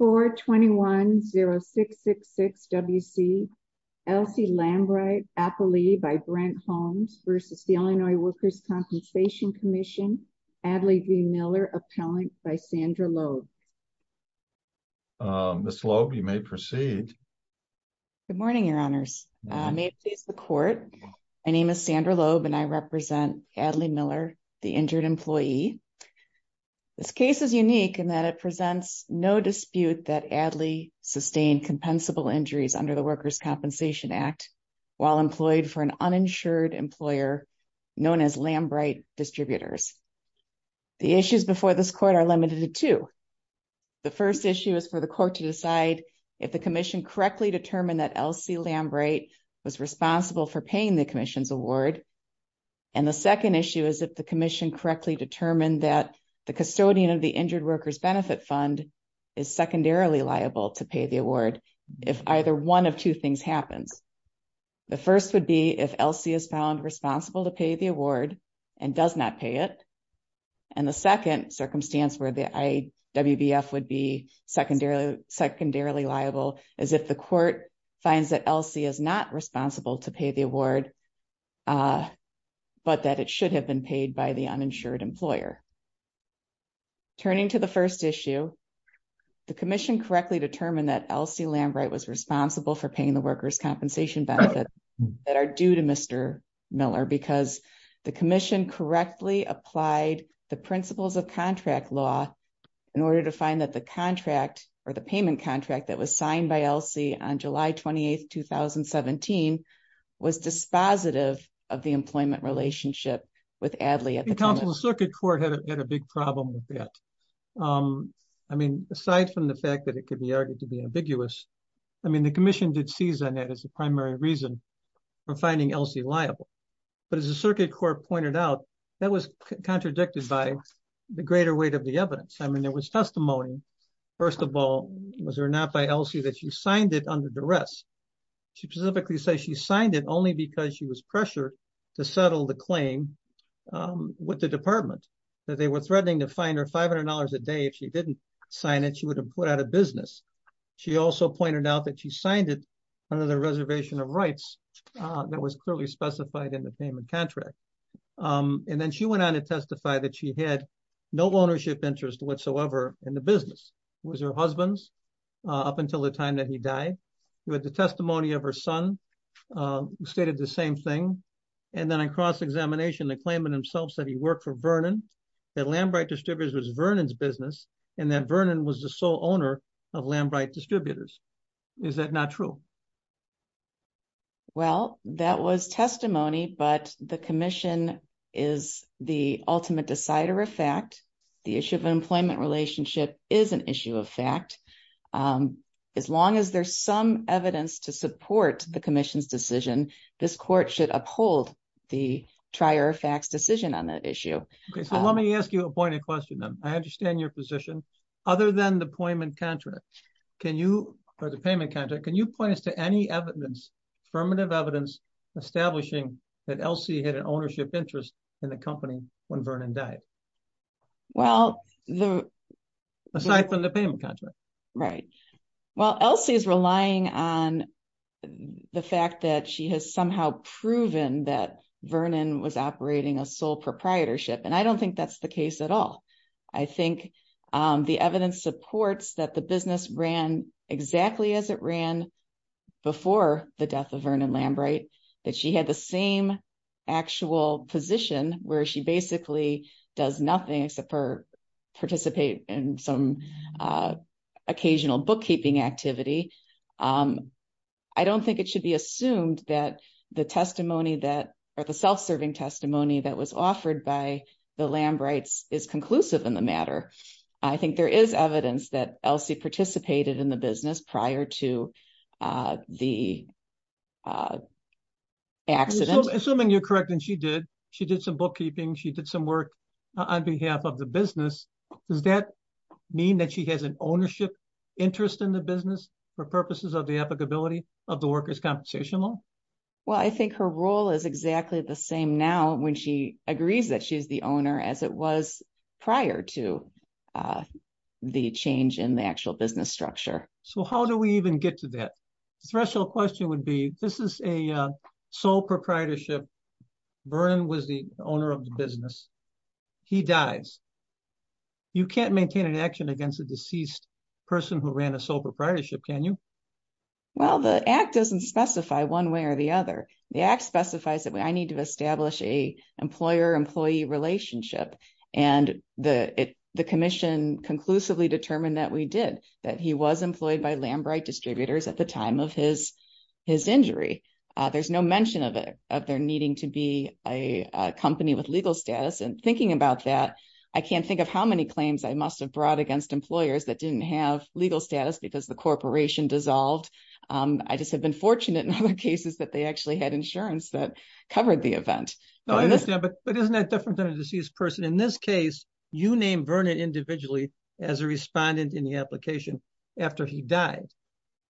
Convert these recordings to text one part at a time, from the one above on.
421-0666-WC, Elsie Lambright, Appleby v. Brent Holmes v. Illinois Workers' Compensation Comm'n, Adlee V. Miller, Appellant v. Sandra Loeb. Ms. Loeb, you may proceed. Good morning, Your Honors. May it please the Court, my name is Sandra Loeb and I represent Adlee Miller, the injured employee. This case is unique in that it presents no dispute that Adlee sustained compensable injuries under the Workers' Compensation Act while employed for an uninsured employer known as Lambright Distributors. The issues before this Court are limited to two. The first issue is for the Court to decide if the Commission correctly determined that Elsie Lambright was responsible for paying the Commission's award. And the second issue is if the Commission correctly determined that the custodian of the Injured Workers' Benefit Fund is secondarily liable to pay the award if either one of two things happens. The first would be if Elsie is found responsible to pay the award and does not pay it. And the second circumstance where the IWBF would be secondarily liable is if the Court finds that Elsie is not responsible to pay the award but that it should have been paid by the uninsured employer. Turning to the first issue, the Commission correctly determined that Elsie Lambright was responsible for paying the Workers' Compensation benefits that are due to Mr. Miller because the Commission correctly applied the principles of contract law in order to find that the contract or the payment contract that was signed by Elsie on July 28, 2017 was dispositive of the employment relationship with Adly at the time. The Circuit Court had a big problem with that. Aside from the fact that it could be argued to be ambiguous, the Commission did seize on that as a primary reason for finding Elsie liable. But as the Circuit Court pointed out, that was contradicted by the greater weight of the testimony. First of all, was there not by Elsie that she signed it under duress? She specifically says she signed it only because she was pressured to settle the claim with the Department, that they were threatening to fine her $500 a day if she didn't sign it, she would have put out of business. She also pointed out that she signed it under the reservation of rights that was clearly specified in the payment contract. And then she went on to testify that she had no ownership interest whatsoever in the business. It was her husband's up until the time that he died. He had the testimony of her son who stated the same thing. And then in cross-examination, the claimant himself said he worked for Vernon, that Lambright Distributors was Vernon's business, and that Vernon was the sole owner of Lambright Distributors. Is that not true? Well, that was testimony, but the Commission is the ultimate decider of fact. The issue of employment relationship is an issue of fact. As long as there's some evidence to support the Commission's decision, this court should uphold the trier of facts decision on that issue. Okay, so let me ask you a point of question then. I understand your position. Other than the payment contract, can you point us to any evidence, affirmative evidence establishing that Elsie had an ownership interest in the company when Vernon died? Aside from the payment contract. Right. Well, Elsie is relying on the fact that she has somehow proven that Vernon was operating a sole proprietorship, and I don't think that's the case at all. I think the evidence supports that the business ran exactly as it ran before the death of Vernon Lambright, that she had the same actual position where she basically does nothing except for participate in some occasional bookkeeping activity. I don't think it should be assumed that the testimony that, or the self-serving testimony that was offered by the Lambrights is conclusive in the matter. I think there is evidence that Elsie participated in the business prior to the accident. Assuming you're correct and she did, she did some bookkeeping, she did some work on behalf of the business, does that mean that she has an ownership interest in the business for purposes of the applicability of the workers' compensation law? Well, I think her role is exactly the same now when she agrees that she's the owner as it was prior to the change in the actual business structure. So how do we even get to that? The threshold question would be, this is a sole proprietorship, Vernon was the owner of the business, he dies. You can't maintain an action against a deceased person who ran a sole proprietorship, can you? Well, the act doesn't specify one way or the other. The act specifies that I need to establish a employer-employee relationship. And the commission conclusively determined that we did, that he was employed by Lambright distributors at the time of his injury. There's no mention of their needing to be a company with legal status. And thinking about that, I can't think of how many claims I must have brought against employers that didn't have legal status because the corporation dissolved. I just have been fortunate in other cases that they actually had insurance that covered the event. No, I understand. But isn't that different than a deceased person? In this case, you named Vernon individually as a respondent in the application after he died.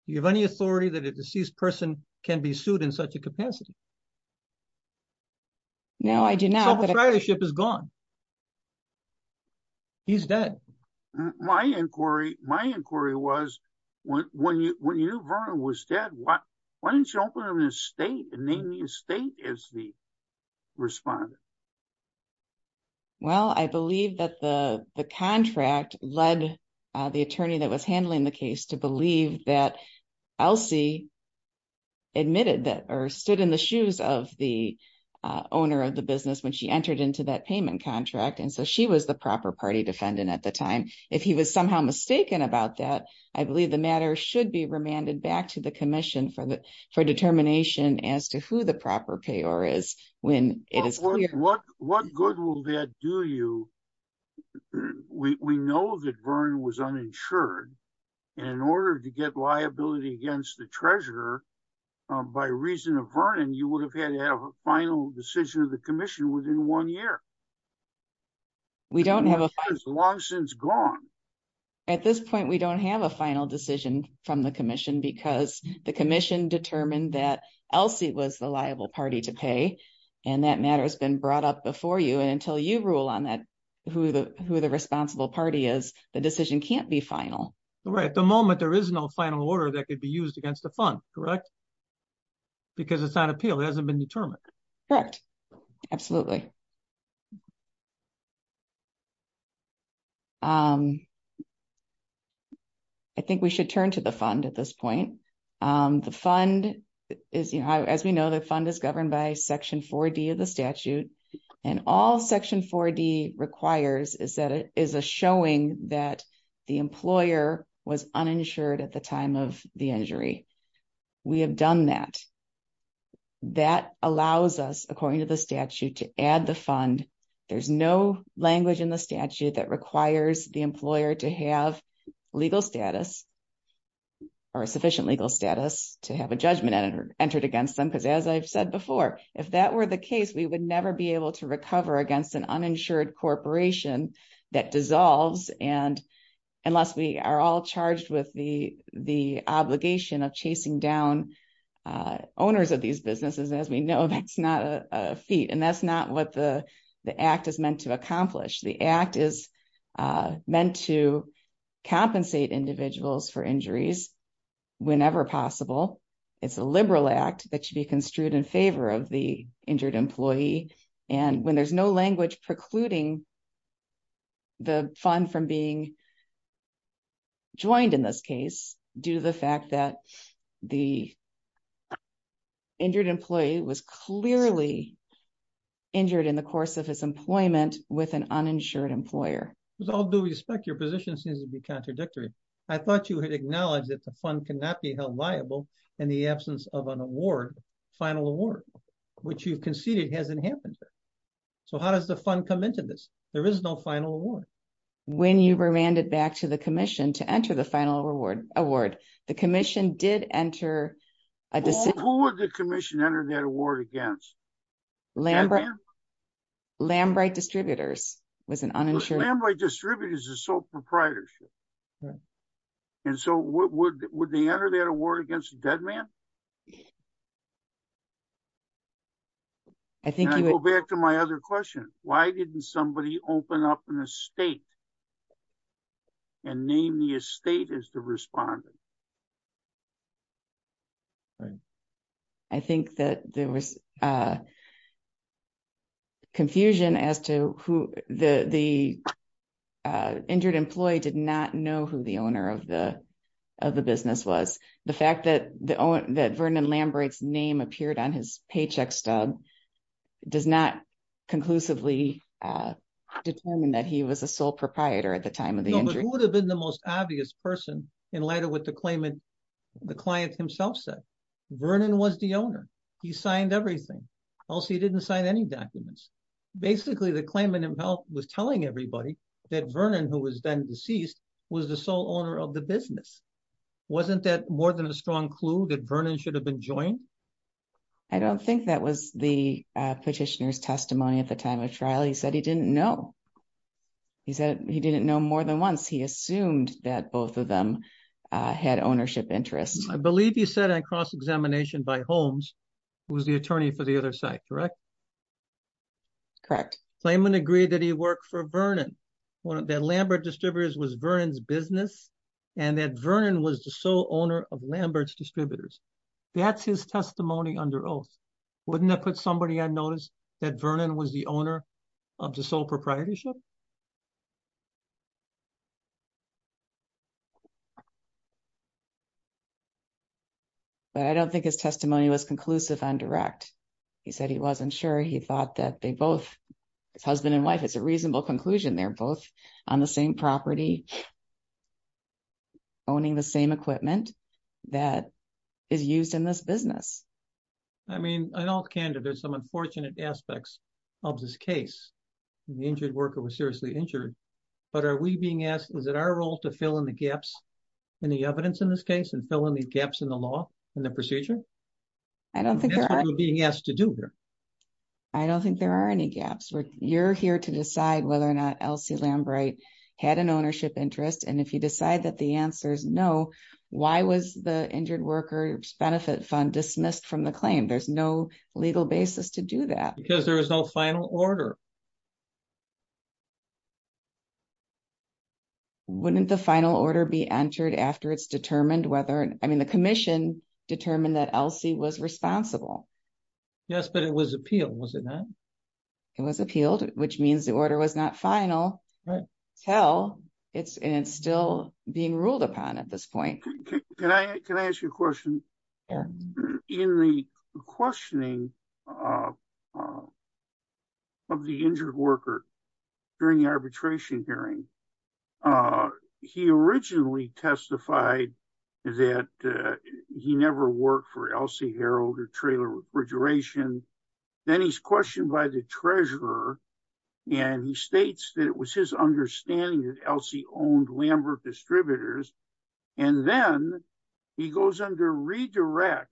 Do you have any authority that a deceased person can be sued in such a capacity? No, I do not. So the proprietorship is gone. He's dead. My inquiry was, when you knew Vernon was dead, why didn't you open up an estate and name the estate as the respondent? Well, I believe that the contract led the attorney that was handling the case to believe that Elsie admitted that or stood in the shoes of the owner of the business when she entered into that payment contract. And so she was the proper party defendant at the time. If he was somehow mistaken about that, I believe the matter should be remanded back to the commission for determination as to who the proper payor is. What good will that do you? We know that Vernon was uninsured. And in order to get liability against the treasurer, by reason of Vernon, you would have had to have a final decision of the commission within one year. We don't have a final decision. It's long since gone. At this point, we don't have a final decision from the commission because the commission determined that Elsie was the liable party to pay. And that matter has been brought up before you. And until you rule on that, who the responsible party is, the decision can't be final. At the moment, there is no final order that could be used against the fund, correct? Because it's not an appeal. It hasn't been determined. Correct. Absolutely. I think we should turn to the fund at this point. The fund is, you know, as we know, the fund is governed by Section 4D of the statute. And all Section 4D requires is that it is a showing that the employer was uninsured at the time of the injury. We have done that. That allows us, according to the statute, to add the fund. There's no language in the statute that requires the employer to have legal status or sufficient legal status to have a judgment entered against them. Because as I've said before, if that were the case, we would never be able to unless we are all charged with the obligation of chasing down owners of these businesses. As we know, that's not a feat. And that's not what the act is meant to accomplish. The act is meant to compensate individuals for injuries whenever possible. It's a liberal act that should be construed in favor of the injured employee. And when there's no language precluding the fund from being joined in this case, due to the fact that the injured employee was clearly injured in the course of his employment with an uninsured employer. With all due respect, your position seems to be contradictory. I thought you had acknowledged that the fund cannot be held liable in the absence of an award, final award, which you've conceded hasn't happened. So how does the fund come into this? There is no final award. When you remanded back to the commission to enter the final award, the commission did enter a decision. Who would the commission enter that award against? Lambright Distributors was an uninsured. Lambright Distributors is sole proprietorship. And so would they enter that award against a dead man? I think you would go back to my other question. Why didn't somebody open up an estate and name the estate as the respondent? Right. I think that there was confusion as to who the the injured employee did not know who the owner of the business was. The fact that Vernon Lambright's name appeared on his paycheck stub does not conclusively determine that he was a sole proprietor at the time of the injury. Who would have been the most obvious person in light of what the claimant, the client himself said? Vernon was the owner. He signed everything. Also, he didn't sign any documents. Basically, the claimant himself was telling everybody that Vernon, who was then the owner of the business. Wasn't that more than a strong clue that Vernon should have been joined? I don't think that was the petitioner's testimony at the time of trial. He said he didn't know. He said he didn't know more than once. He assumed that both of them had ownership interests. I believe you said on cross-examination by Holmes, who was the attorney for the other side, correct? Correct. Claimant agreed that he worked for Vernon. That Lambright Distributors was Vernon's business and that Vernon was the sole owner of Lambright's Distributors. That's his testimony under oath. Wouldn't that put somebody on notice that Vernon was the owner of the sole proprietorship? I don't think his testimony was conclusive on direct. He said he wasn't sure. He thought that they both, his husband and wife, it's a reasonable conclusion. They're both on the same property. Owning the same equipment that is used in this business. I mean, in all candor, there's some unfortunate aspects of this case. The injured worker was seriously injured. But are we being asked, is it our role to fill in the gaps in the evidence in this case and fill in these gaps in the law and the procedure? That's what we're being asked to do here. I don't think there are any gaps. You're here to decide whether or not Elsie Lambright had an ownership interest. And if you decide that the answer is no, why was the injured worker's benefit fund dismissed from the claim? There's no legal basis to do that. Because there was no final order. Wouldn't the final order be entered after it's determined whether, I mean, the commission determined that Elsie was responsible. Yes, but it was appealed, was it not? It was appealed, which means the order was not final. Until, and it's still being ruled upon at this point. Can I ask you a question? In the questioning of the injured worker during the arbitration hearing, he originally testified that he never worked for Elsie Harold or Traylor Refrigeration. Then he's questioned by the treasurer and he states that it was his understanding that Elsie owned Lambert Distributors. And then he goes under redirect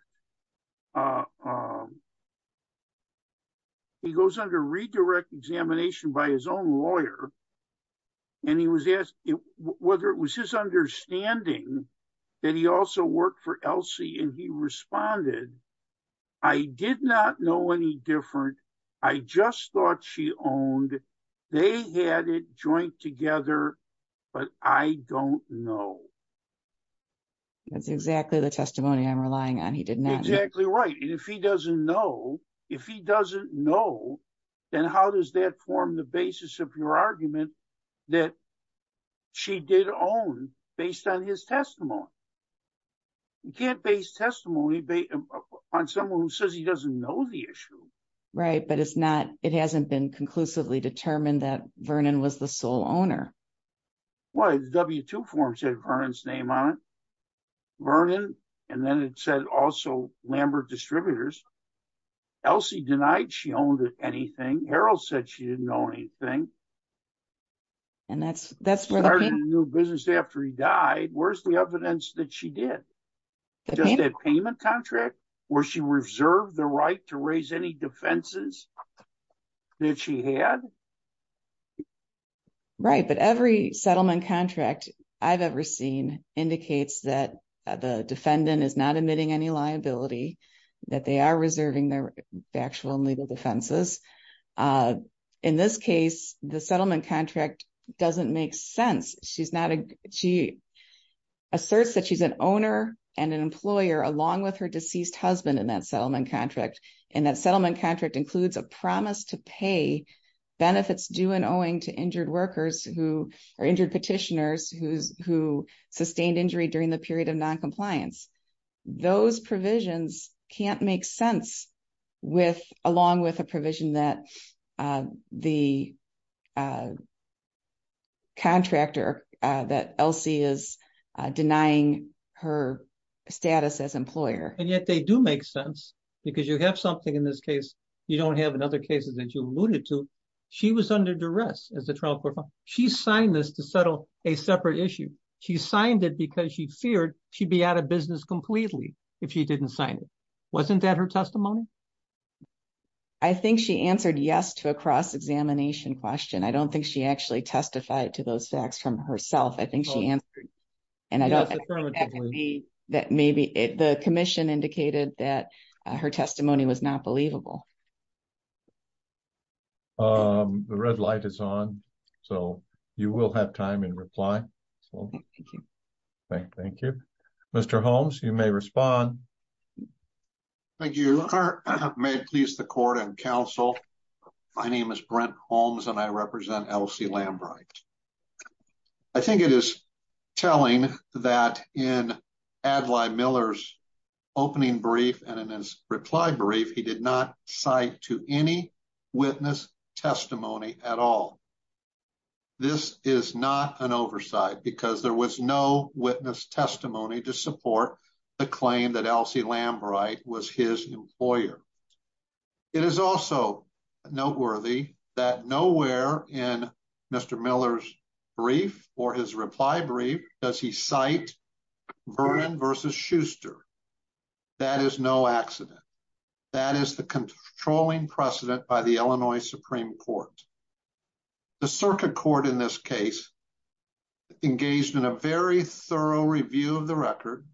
examination by his own lawyer. And he was asked whether it was his understanding that he also worked for Elsie. And he responded, I did not know any different. I just thought she owned, they had it joint together, but I don't know. That's exactly the testimony I'm relying on. He did not. Exactly right. And if he doesn't know, if he doesn't know, then how does that form the basis of your argument that she did own based on his testimony? You can't base testimony on someone who says he doesn't know the issue. Right. But it's not, it hasn't been conclusively determined that Vernon was the sole owner. Why? The W-2 form said Vernon's name on it. Vernon. And then it said also Lambert Distributors. Elsie denied she owned anything. Harold said she didn't own anything. And that's, that's where the new business after he died, where's the evidence that she did? Just a payment contract where she reserved the right to raise any defenses that she had? Right. But every settlement contract I've ever seen indicates that the defendant is not admitting any liability, that they are reserving their actual legal defenses. In this case, the settlement contract doesn't make sense. She's not, she asserts that she's an owner and an employer along with her deceased husband in that settlement contract. And that settlement contract includes a promise to pay benefits due and owing to injured workers who are injured petitioners who sustained injury during the period of non-compliance. Those provisions can't make sense with, along with a provision that the contractor that Elsie is denying her status as employer. And yet they do make sense because you have something in this case you don't have in other cases that you alluded to. She was under duress as a trial court file. She signed this to settle a separate issue. She signed it because she feared she'd be out of business completely if she didn't sign it. Wasn't that her testimony? I think she answered yes to a cross-examination question. I don't think she actually testified to those facts from herself. I think she answered and I don't think that could be that maybe the commission indicated that her testimony was not believable. The red light is on. So you will have time in reply. Thank you. Mr. Holmes, you may respond. Thank you. May it please the court and counsel. My name is Brent Holmes and I represent Elsie Lambright. I think it is telling that in Adlai Miller's opening brief and in his reply brief, he did not cite to any witness testimony at all. This is not an oversight because there was no witness testimony to support the claim that Elsie Lambright was his employer. It is also noteworthy that nowhere in Mr. Miller's brief or his reply brief does he cite Vernon versus Schuster. That is no accident. That is the controlling precedent by the Illinois Supreme Court. The circuit court in this case engaged in a very thorough review of the record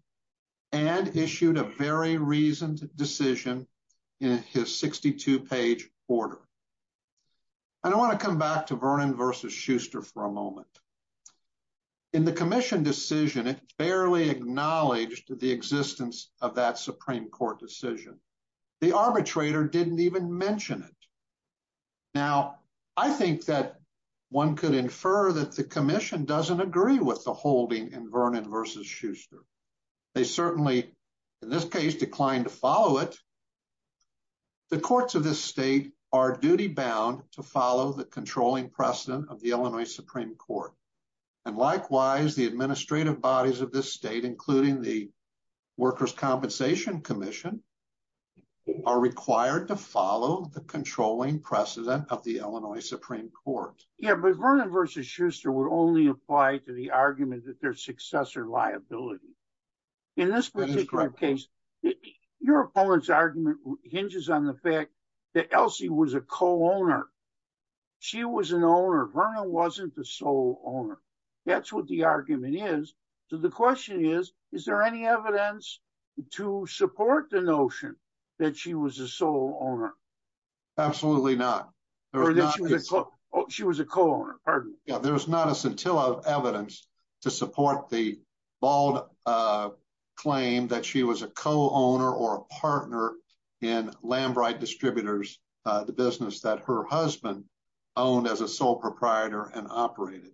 and issued a very reasoned decision in his 62-page order. I want to come back to Vernon versus Schuster for a moment. In the commission decision, it barely acknowledged the existence of that Supreme Court decision. The arbitrator did not even mention it. Now, I think that one could infer that the commission does not agree with the holding in Vernon versus Schuster. They certainly, in this case, declined to follow it. The courts of this state are duty bound to controlling precedent of the Illinois Supreme Court. Likewise, the administrative bodies of this state, including the Workers' Compensation Commission, are required to follow the controlling precedent of the Illinois Supreme Court. Yeah, but Vernon versus Schuster would only apply to the argument that their successor liability. In this particular case, your opponent's co-owner. She was an owner. Vernon wasn't the sole owner. That's what the argument is. So, the question is, is there any evidence to support the notion that she was a sole owner? Absolutely not. She was a co-owner. Pardon me. Yeah, there's not a scintilla of evidence to support the bald claim that she was a co-owner or a partner in Lambright Distributors, the business that her husband owned as a sole proprietor and operated.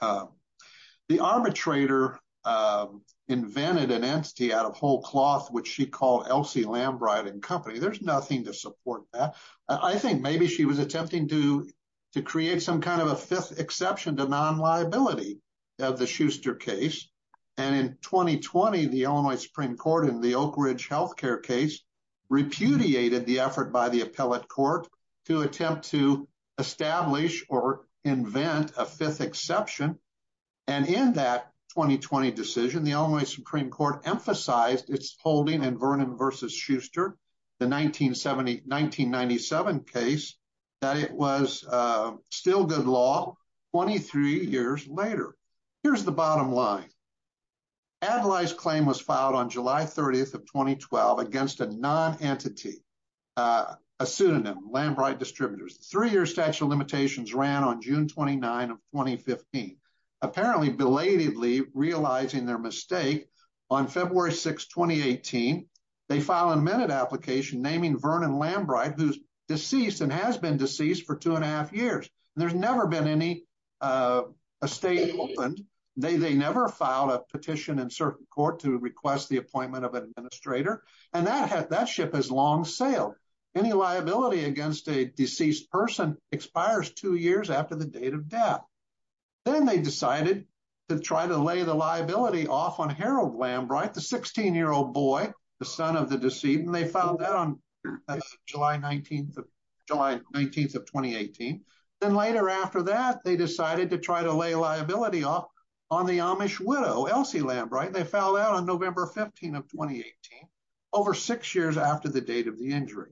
The arbitrator invented an entity out of whole cloth, which she called Elsie Lambright & Company. There's nothing to support that. I think maybe she was attempting to create some kind of a fifth exception to non-liability of the Schuster case. And in 2020, the Illinois Supreme Court in the appellate court to attempt to establish or invent a fifth exception. And in that 2020 decision, the Illinois Supreme Court emphasized its holding in Vernon versus Schuster, the 1997 case, that it was still good law 23 years later. Here's the bottom line. Adlai's claim was a pseudonym, Lambright Distributors. Three-year statute of limitations ran on June 29 of 2015. Apparently, belatedly realizing their mistake, on February 6, 2018, they filed an amended application naming Vernon Lambright, who's deceased and has been deceased for two and a half years. There's never been any estate opened. They never filed a petition in certain court to request the liability against a deceased person expires two years after the date of death. Then they decided to try to lay the liability off on Harold Lambright, the 16-year-old boy, the son of the deceased. And they filed that on July 19 of 2018. Then later after that, they decided to try to lay liability off on the Amish widow, Elsie Lambright. They filed that on November 15 of 2018, over six years after the date of the injury.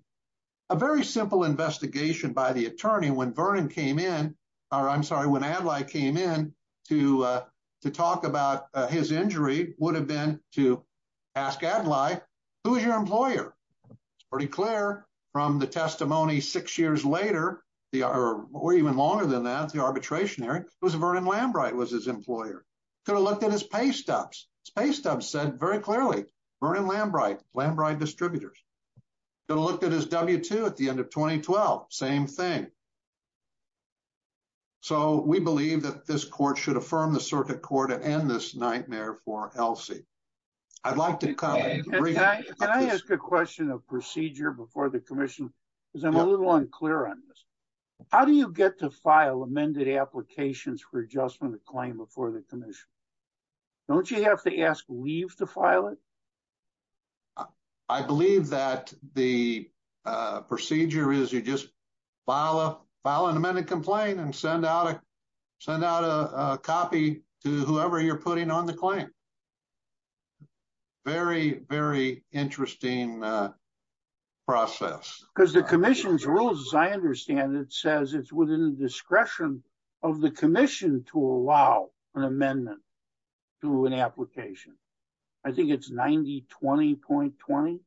A very simple investigation by the attorney when Vernon came in, or I'm sorry, when Adlai came in to talk about his injury would have been to ask Adlai, who is your employer? It's pretty clear from the testimony six years later, or even longer than that, the arbitrationary, it was Vernon Lambright was his employer. Could have looked at his paystubs. Paystubs said very clearly, Vernon Lambright, Lambright Distributors. Could have looked at his W-2 at the end of 2012. Same thing. So we believe that this court should affirm the circuit court and end this nightmare for Elsie. I'd like to cut. Can I ask a question of procedure before the commission? Because I'm a little unclear on this. How do you get to file amended applications for adjustment of claim before the commission? Don't you have to ask leave to file it? I believe that the procedure is you just file an amended complaint and send out a copy to whoever you're putting on the claim. Very, very interesting process. Because the commission's rules, as I understand it, says it's within the discretion of the commission to allow an amendment to an application. I think it's 9020.20,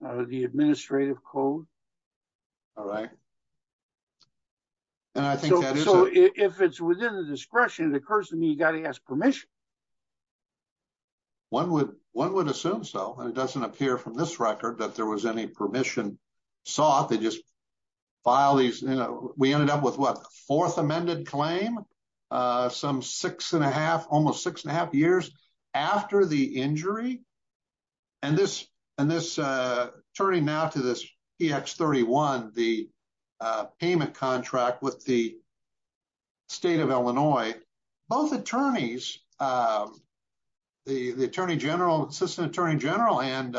the administrative code. All right. And I think that is- So if it's within the discretion, it occurs to me you got to ask permission. One would assume so, and it doesn't appear from this record that there was any permission sought. They just filed these. We ended up with, what, a fourth amended claim, some six and a half, almost six and a half years after the injury. And this, turning now to this PX31, the payment contract with the state of Illinois, both attorneys, the Attorney General, Assistant Attorney General and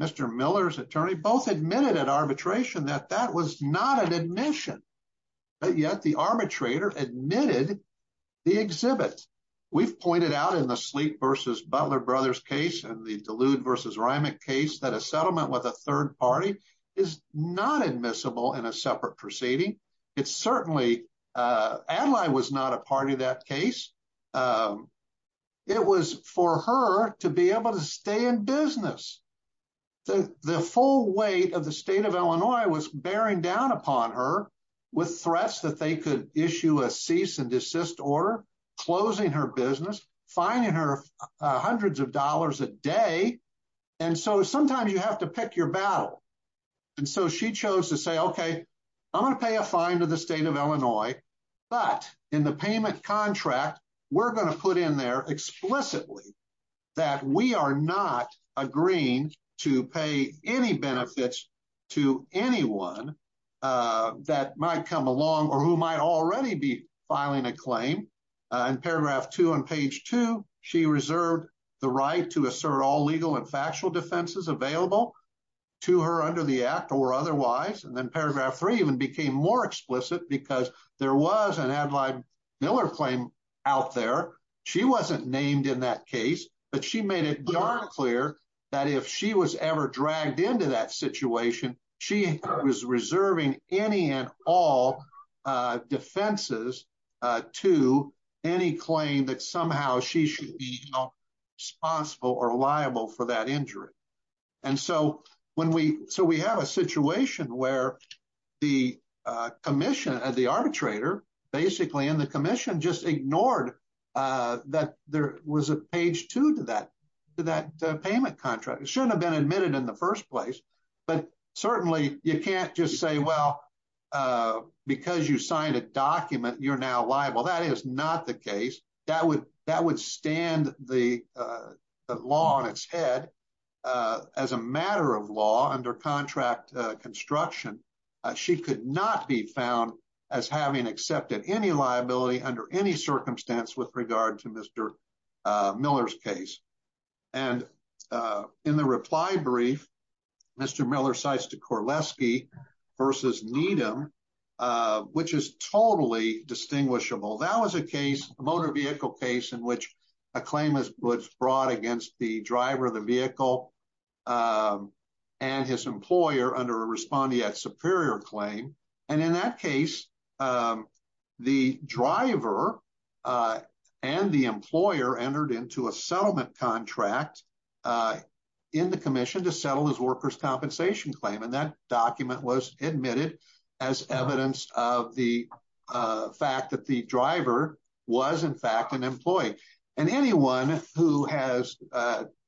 Mr. Miller's attorney, both admitted at arbitration that that was not an admission. But yet the arbitrator admitted the exhibit. We've pointed out in the Sleep v. Butler Brothers case and the Delude v. Reimig case that a settlement with a third party is not admissible in a separate proceeding. It's certainly- Adlai was not a part of that case. It was for her to be able to stay in business. The full weight of the state of Illinois was bearing down upon her with threats that they could issue a cease and desist order, closing her business, fining her hundreds of dollars a day. And so sometimes you have to pick your battle. And so she chose to say, okay, I'm going to pay a fine to the state of Illinois, but in the payment contract, we're going to put in there explicitly that we are not agreeing to pay any benefits to anyone that might come along or who might already be filing a claim. In paragraph two on page two, she reserved the right to assert all legal and factual defenses available to her under the act or otherwise. And then paragraph three even became more explicit because there was an Adlai Miller claim out there. She wasn't named in that case, but she made it darn clear that if she was ever dragged into that situation, she was reserving any and all defenses to any claim that somehow she should be responsible or liable for that injury. And so we have a situation where the arbitrator basically in the commission just ignored that there was a page two to that payment contract. It shouldn't have been admitted in the first place, but certainly you can't just say, well, because you signed a document, you're now liable. That is not the case. That would stand the law on its head as a matter of law under contract construction. She could not be found as having accepted any liability under any circumstance with regard to Mr. Miller's case. And in the reply brief, Mr. Miller cites to Korleski versus Needham, which is totally distinguishable. That was a case, a motor vehicle case in which a claim was brought against the driver of the vehicle and his employer under a respondeat superior claim. And in that case, the driver and the workers' compensation claim. And that document was admitted as evidence of the fact that the driver was in fact an employee. And anyone who has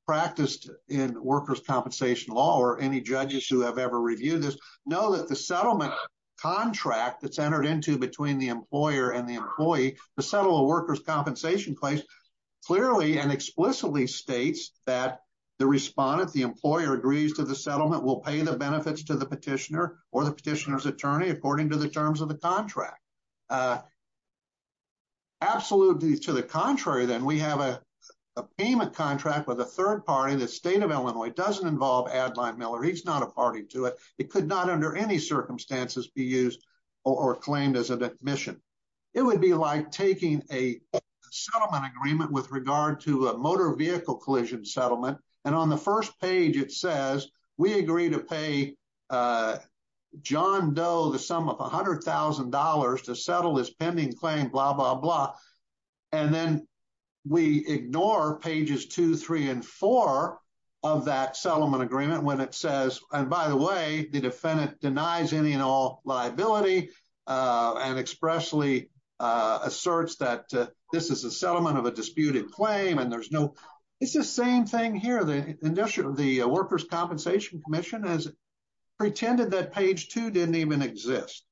practiced in workers' compensation law or any judges who have ever reviewed this know that the settlement contract that's entered into between the employer and the employee to settle a workers' compensation claim clearly and explicitly states that the respondent, the employer agrees to the settlement, will pay the benefits to the petitioner or the petitioner's attorney according to the terms of the contract. Absolutely to the contrary, then, we have a payment contract with a third party, the state of Illinois. It doesn't involve Adline Miller. He's not a party to it. It could not under any circumstances be used or claimed as an admission. It would be like taking a settlement agreement with regard to a motor vehicle collision settlement. And on the first page, it says we agree to pay John Doe the sum of $100,000 to settle this pending claim, blah, blah, blah. And then we ignore pages two, three, and four of that settlement agreement when it says, and by the way, the defendant denies any and all liability and expressly asserts that this is a settlement of a disputed claim. And there's no, it's the same thing here. The Workers' Compensation Commission has pretended that page two didn't even exist.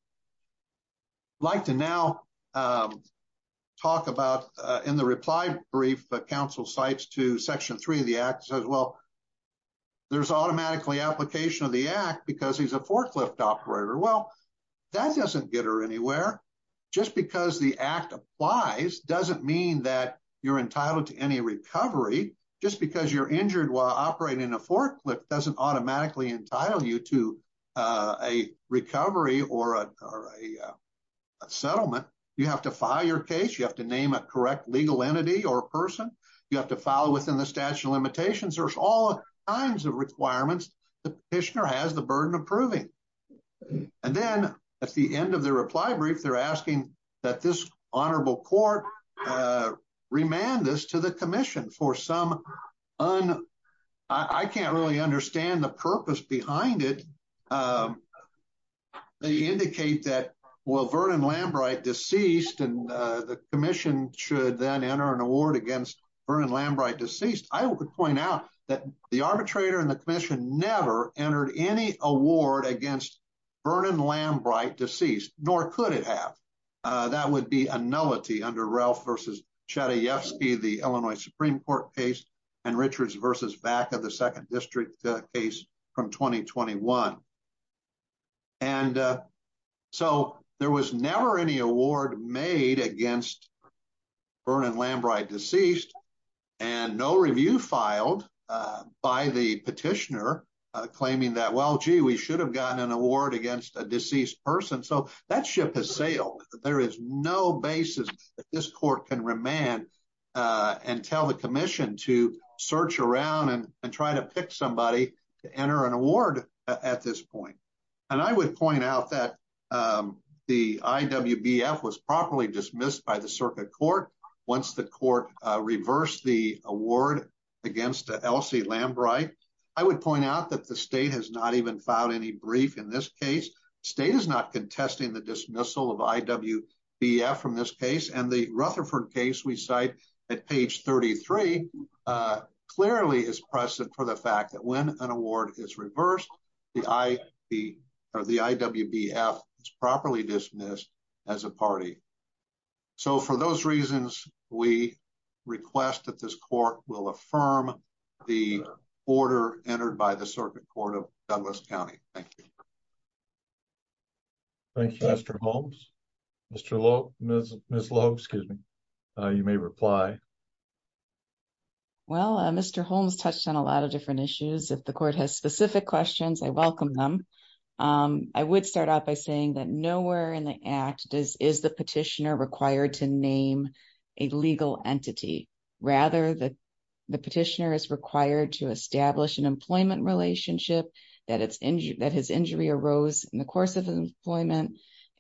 I'd like to now talk about in the reply brief, the council cites to section three of the act, says, well, there's automatically application of the act because he's a forklift operator. Well, that doesn't get her anywhere. Just because the act applies doesn't mean that you're entitled to any recovery. Just because you're injured while operating a forklift doesn't automatically entitle you to a recovery or a settlement. You have to file your case. You have to name a correct legal entity or person. You have to file within the statute of limitations. There's all kinds of requirements. The petitioner has the burden of proving. And then at the end of the reply brief, they're asking that this honorable court remand this to the commission for some, I can't really understand the purpose behind it. They indicate that, well, Vernon Lambright deceased and the commission should then enter an award against Vernon Lambright deceased. I would point out that the arbitrator and the commission never entered any award against Vernon Lambright deceased, nor could it have. That would be a nullity under Ralph versus Chadayevsky, the Illinois Supreme Court case, and Richards versus Vacca, the second district case from 2021. And so there was never any award made against Vernon Lambright deceased and no review filed by the petitioner claiming that, well, gee, we should have gotten an award against a deceased person. So that ship has sailed. There is no basis that this court can remand and tell the commission to search around and try to pick somebody to enter an award at this point. And I would point out that the IWBF was properly dismissed by the circuit court once the court reversed the award against Elsie Lambright. I would point out that the state has not even filed any brief in this case. State is not contesting the dismissal of IWBF from this case. And the Rutherford case we cite at page 33 clearly is precedent for the fact that when an award is reversed, the IWBF is properly dismissed as a party. So for those reasons, we request that this court will affirm the order entered by the circuit court of Douglas County. Thank you. Thank you, Mr. Holmes. Ms. Loeb, you may reply. Well, Mr. Holmes touched on a lot of different issues. If the court has specific questions, I welcome them. I would start out by saying that nowhere in the act is the petitioner required to name a legal entity. Rather, the petitioner is required to establish an employment relationship that his injury arose in the course of his employment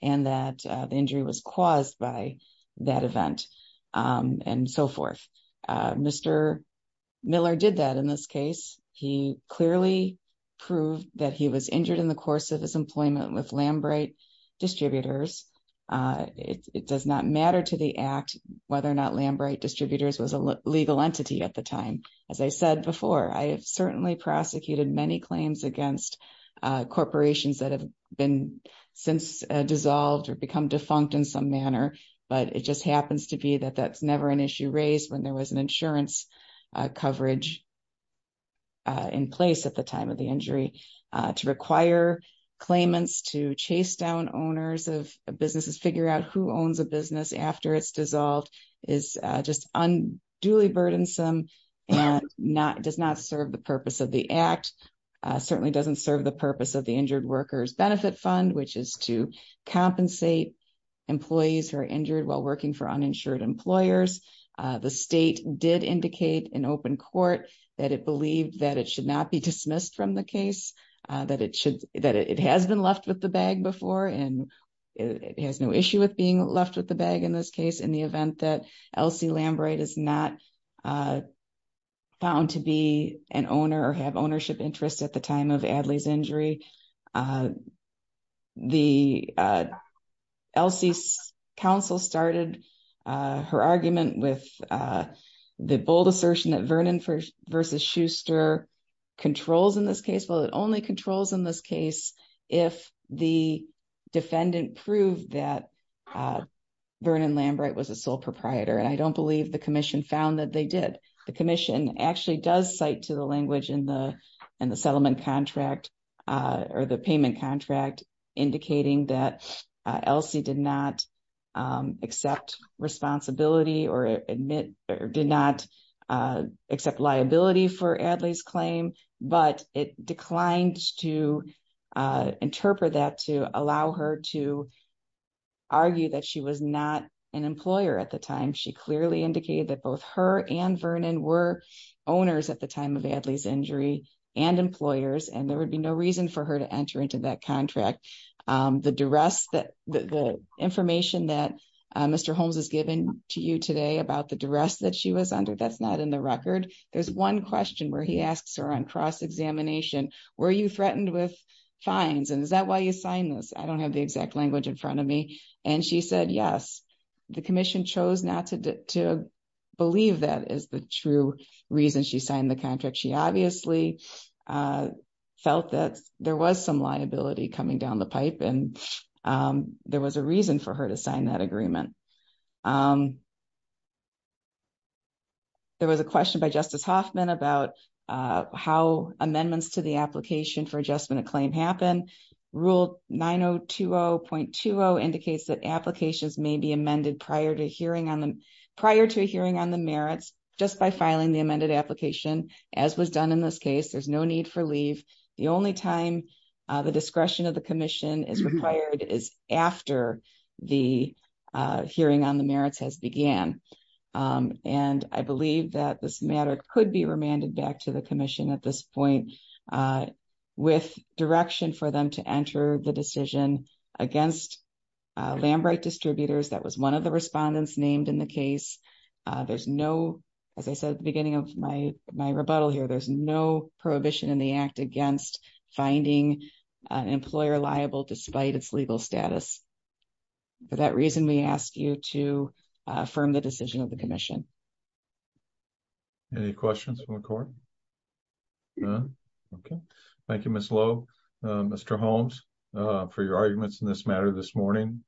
and that the injury was caused by that event and so forth. Mr. Miller did that in this case. He clearly proved that he was injured in the course of his employment with Lambright Distributors. It does not matter to the act whether or not Lambright Distributors was a legal entity at the time. As I said before, I have certainly prosecuted many claims against corporations that have been since become defunct in some manner, but it just happens to be that that's never an issue raised when there was an insurance coverage in place at the time of the injury. To require claimants to chase down owners of businesses, figure out who owns a business after it's dissolved is just unduly burdensome and does not serve the purpose of the act. It certainly doesn't serve the purpose of Injured Workers Benefit Fund, which is to compensate employees who are injured while working for uninsured employers. The state did indicate in open court that it believed that it should not be dismissed from the case, that it has been left with the bag before and it has no issue with being left with the bag in this case in the event that Elsie Lambright is not found to be an owner or have ownership interest at the time of Adly's injury. Elsie's counsel started her argument with the bold assertion that Vernon versus Schuster controls in this case. Well, it only controls in this case if the defendant proved that Vernon Lambright was a sole proprietor and I don't believe the commission found that they did. The commission actually does cite to the language in the settlement contract or the payment contract indicating that Elsie did not accept responsibility or admit or did not accept liability for Adly's claim, but it declined to clearly indicate that both her and Vernon were owners at the time of Adly's injury and employers and there would be no reason for her to enter into that contract. The information that Mr. Holmes has given to you today about the duress that she was under, that's not in the record. There's one question where he asks her on cross-examination, were you threatened with fines and is that why you signed this? I don't have the exact language in front of me and she said yes. The commission chose not to believe that is the true reason she signed the contract. She obviously felt that there was some liability coming down the pipe and there was a reason for her to sign that agreement. There was a question by Justice Hoffman about how amendments to the application for adjustment happen. Rule 9020.20 indicates that applications may be amended prior to a hearing on the merits just by filing the amended application as was done in this case. There's no need for leave. The only time the discretion of the commission is required is after the hearing on the merits has began. I believe that this matter could be remanded back to the commission at this point with direction for them to enter the decision against Lambright Distributors. That was one of the respondents named in the case. There's no, as I said at the beginning of my rebuttal here, there's no prohibition in the act against finding an employer liable despite its legal status. For that reason, we ask you to affirm the decision of the commission. Any questions from the court? None? Okay. Thank you, Ms. Lowe. Mr. Holmes, for your arguments in this matter this morning.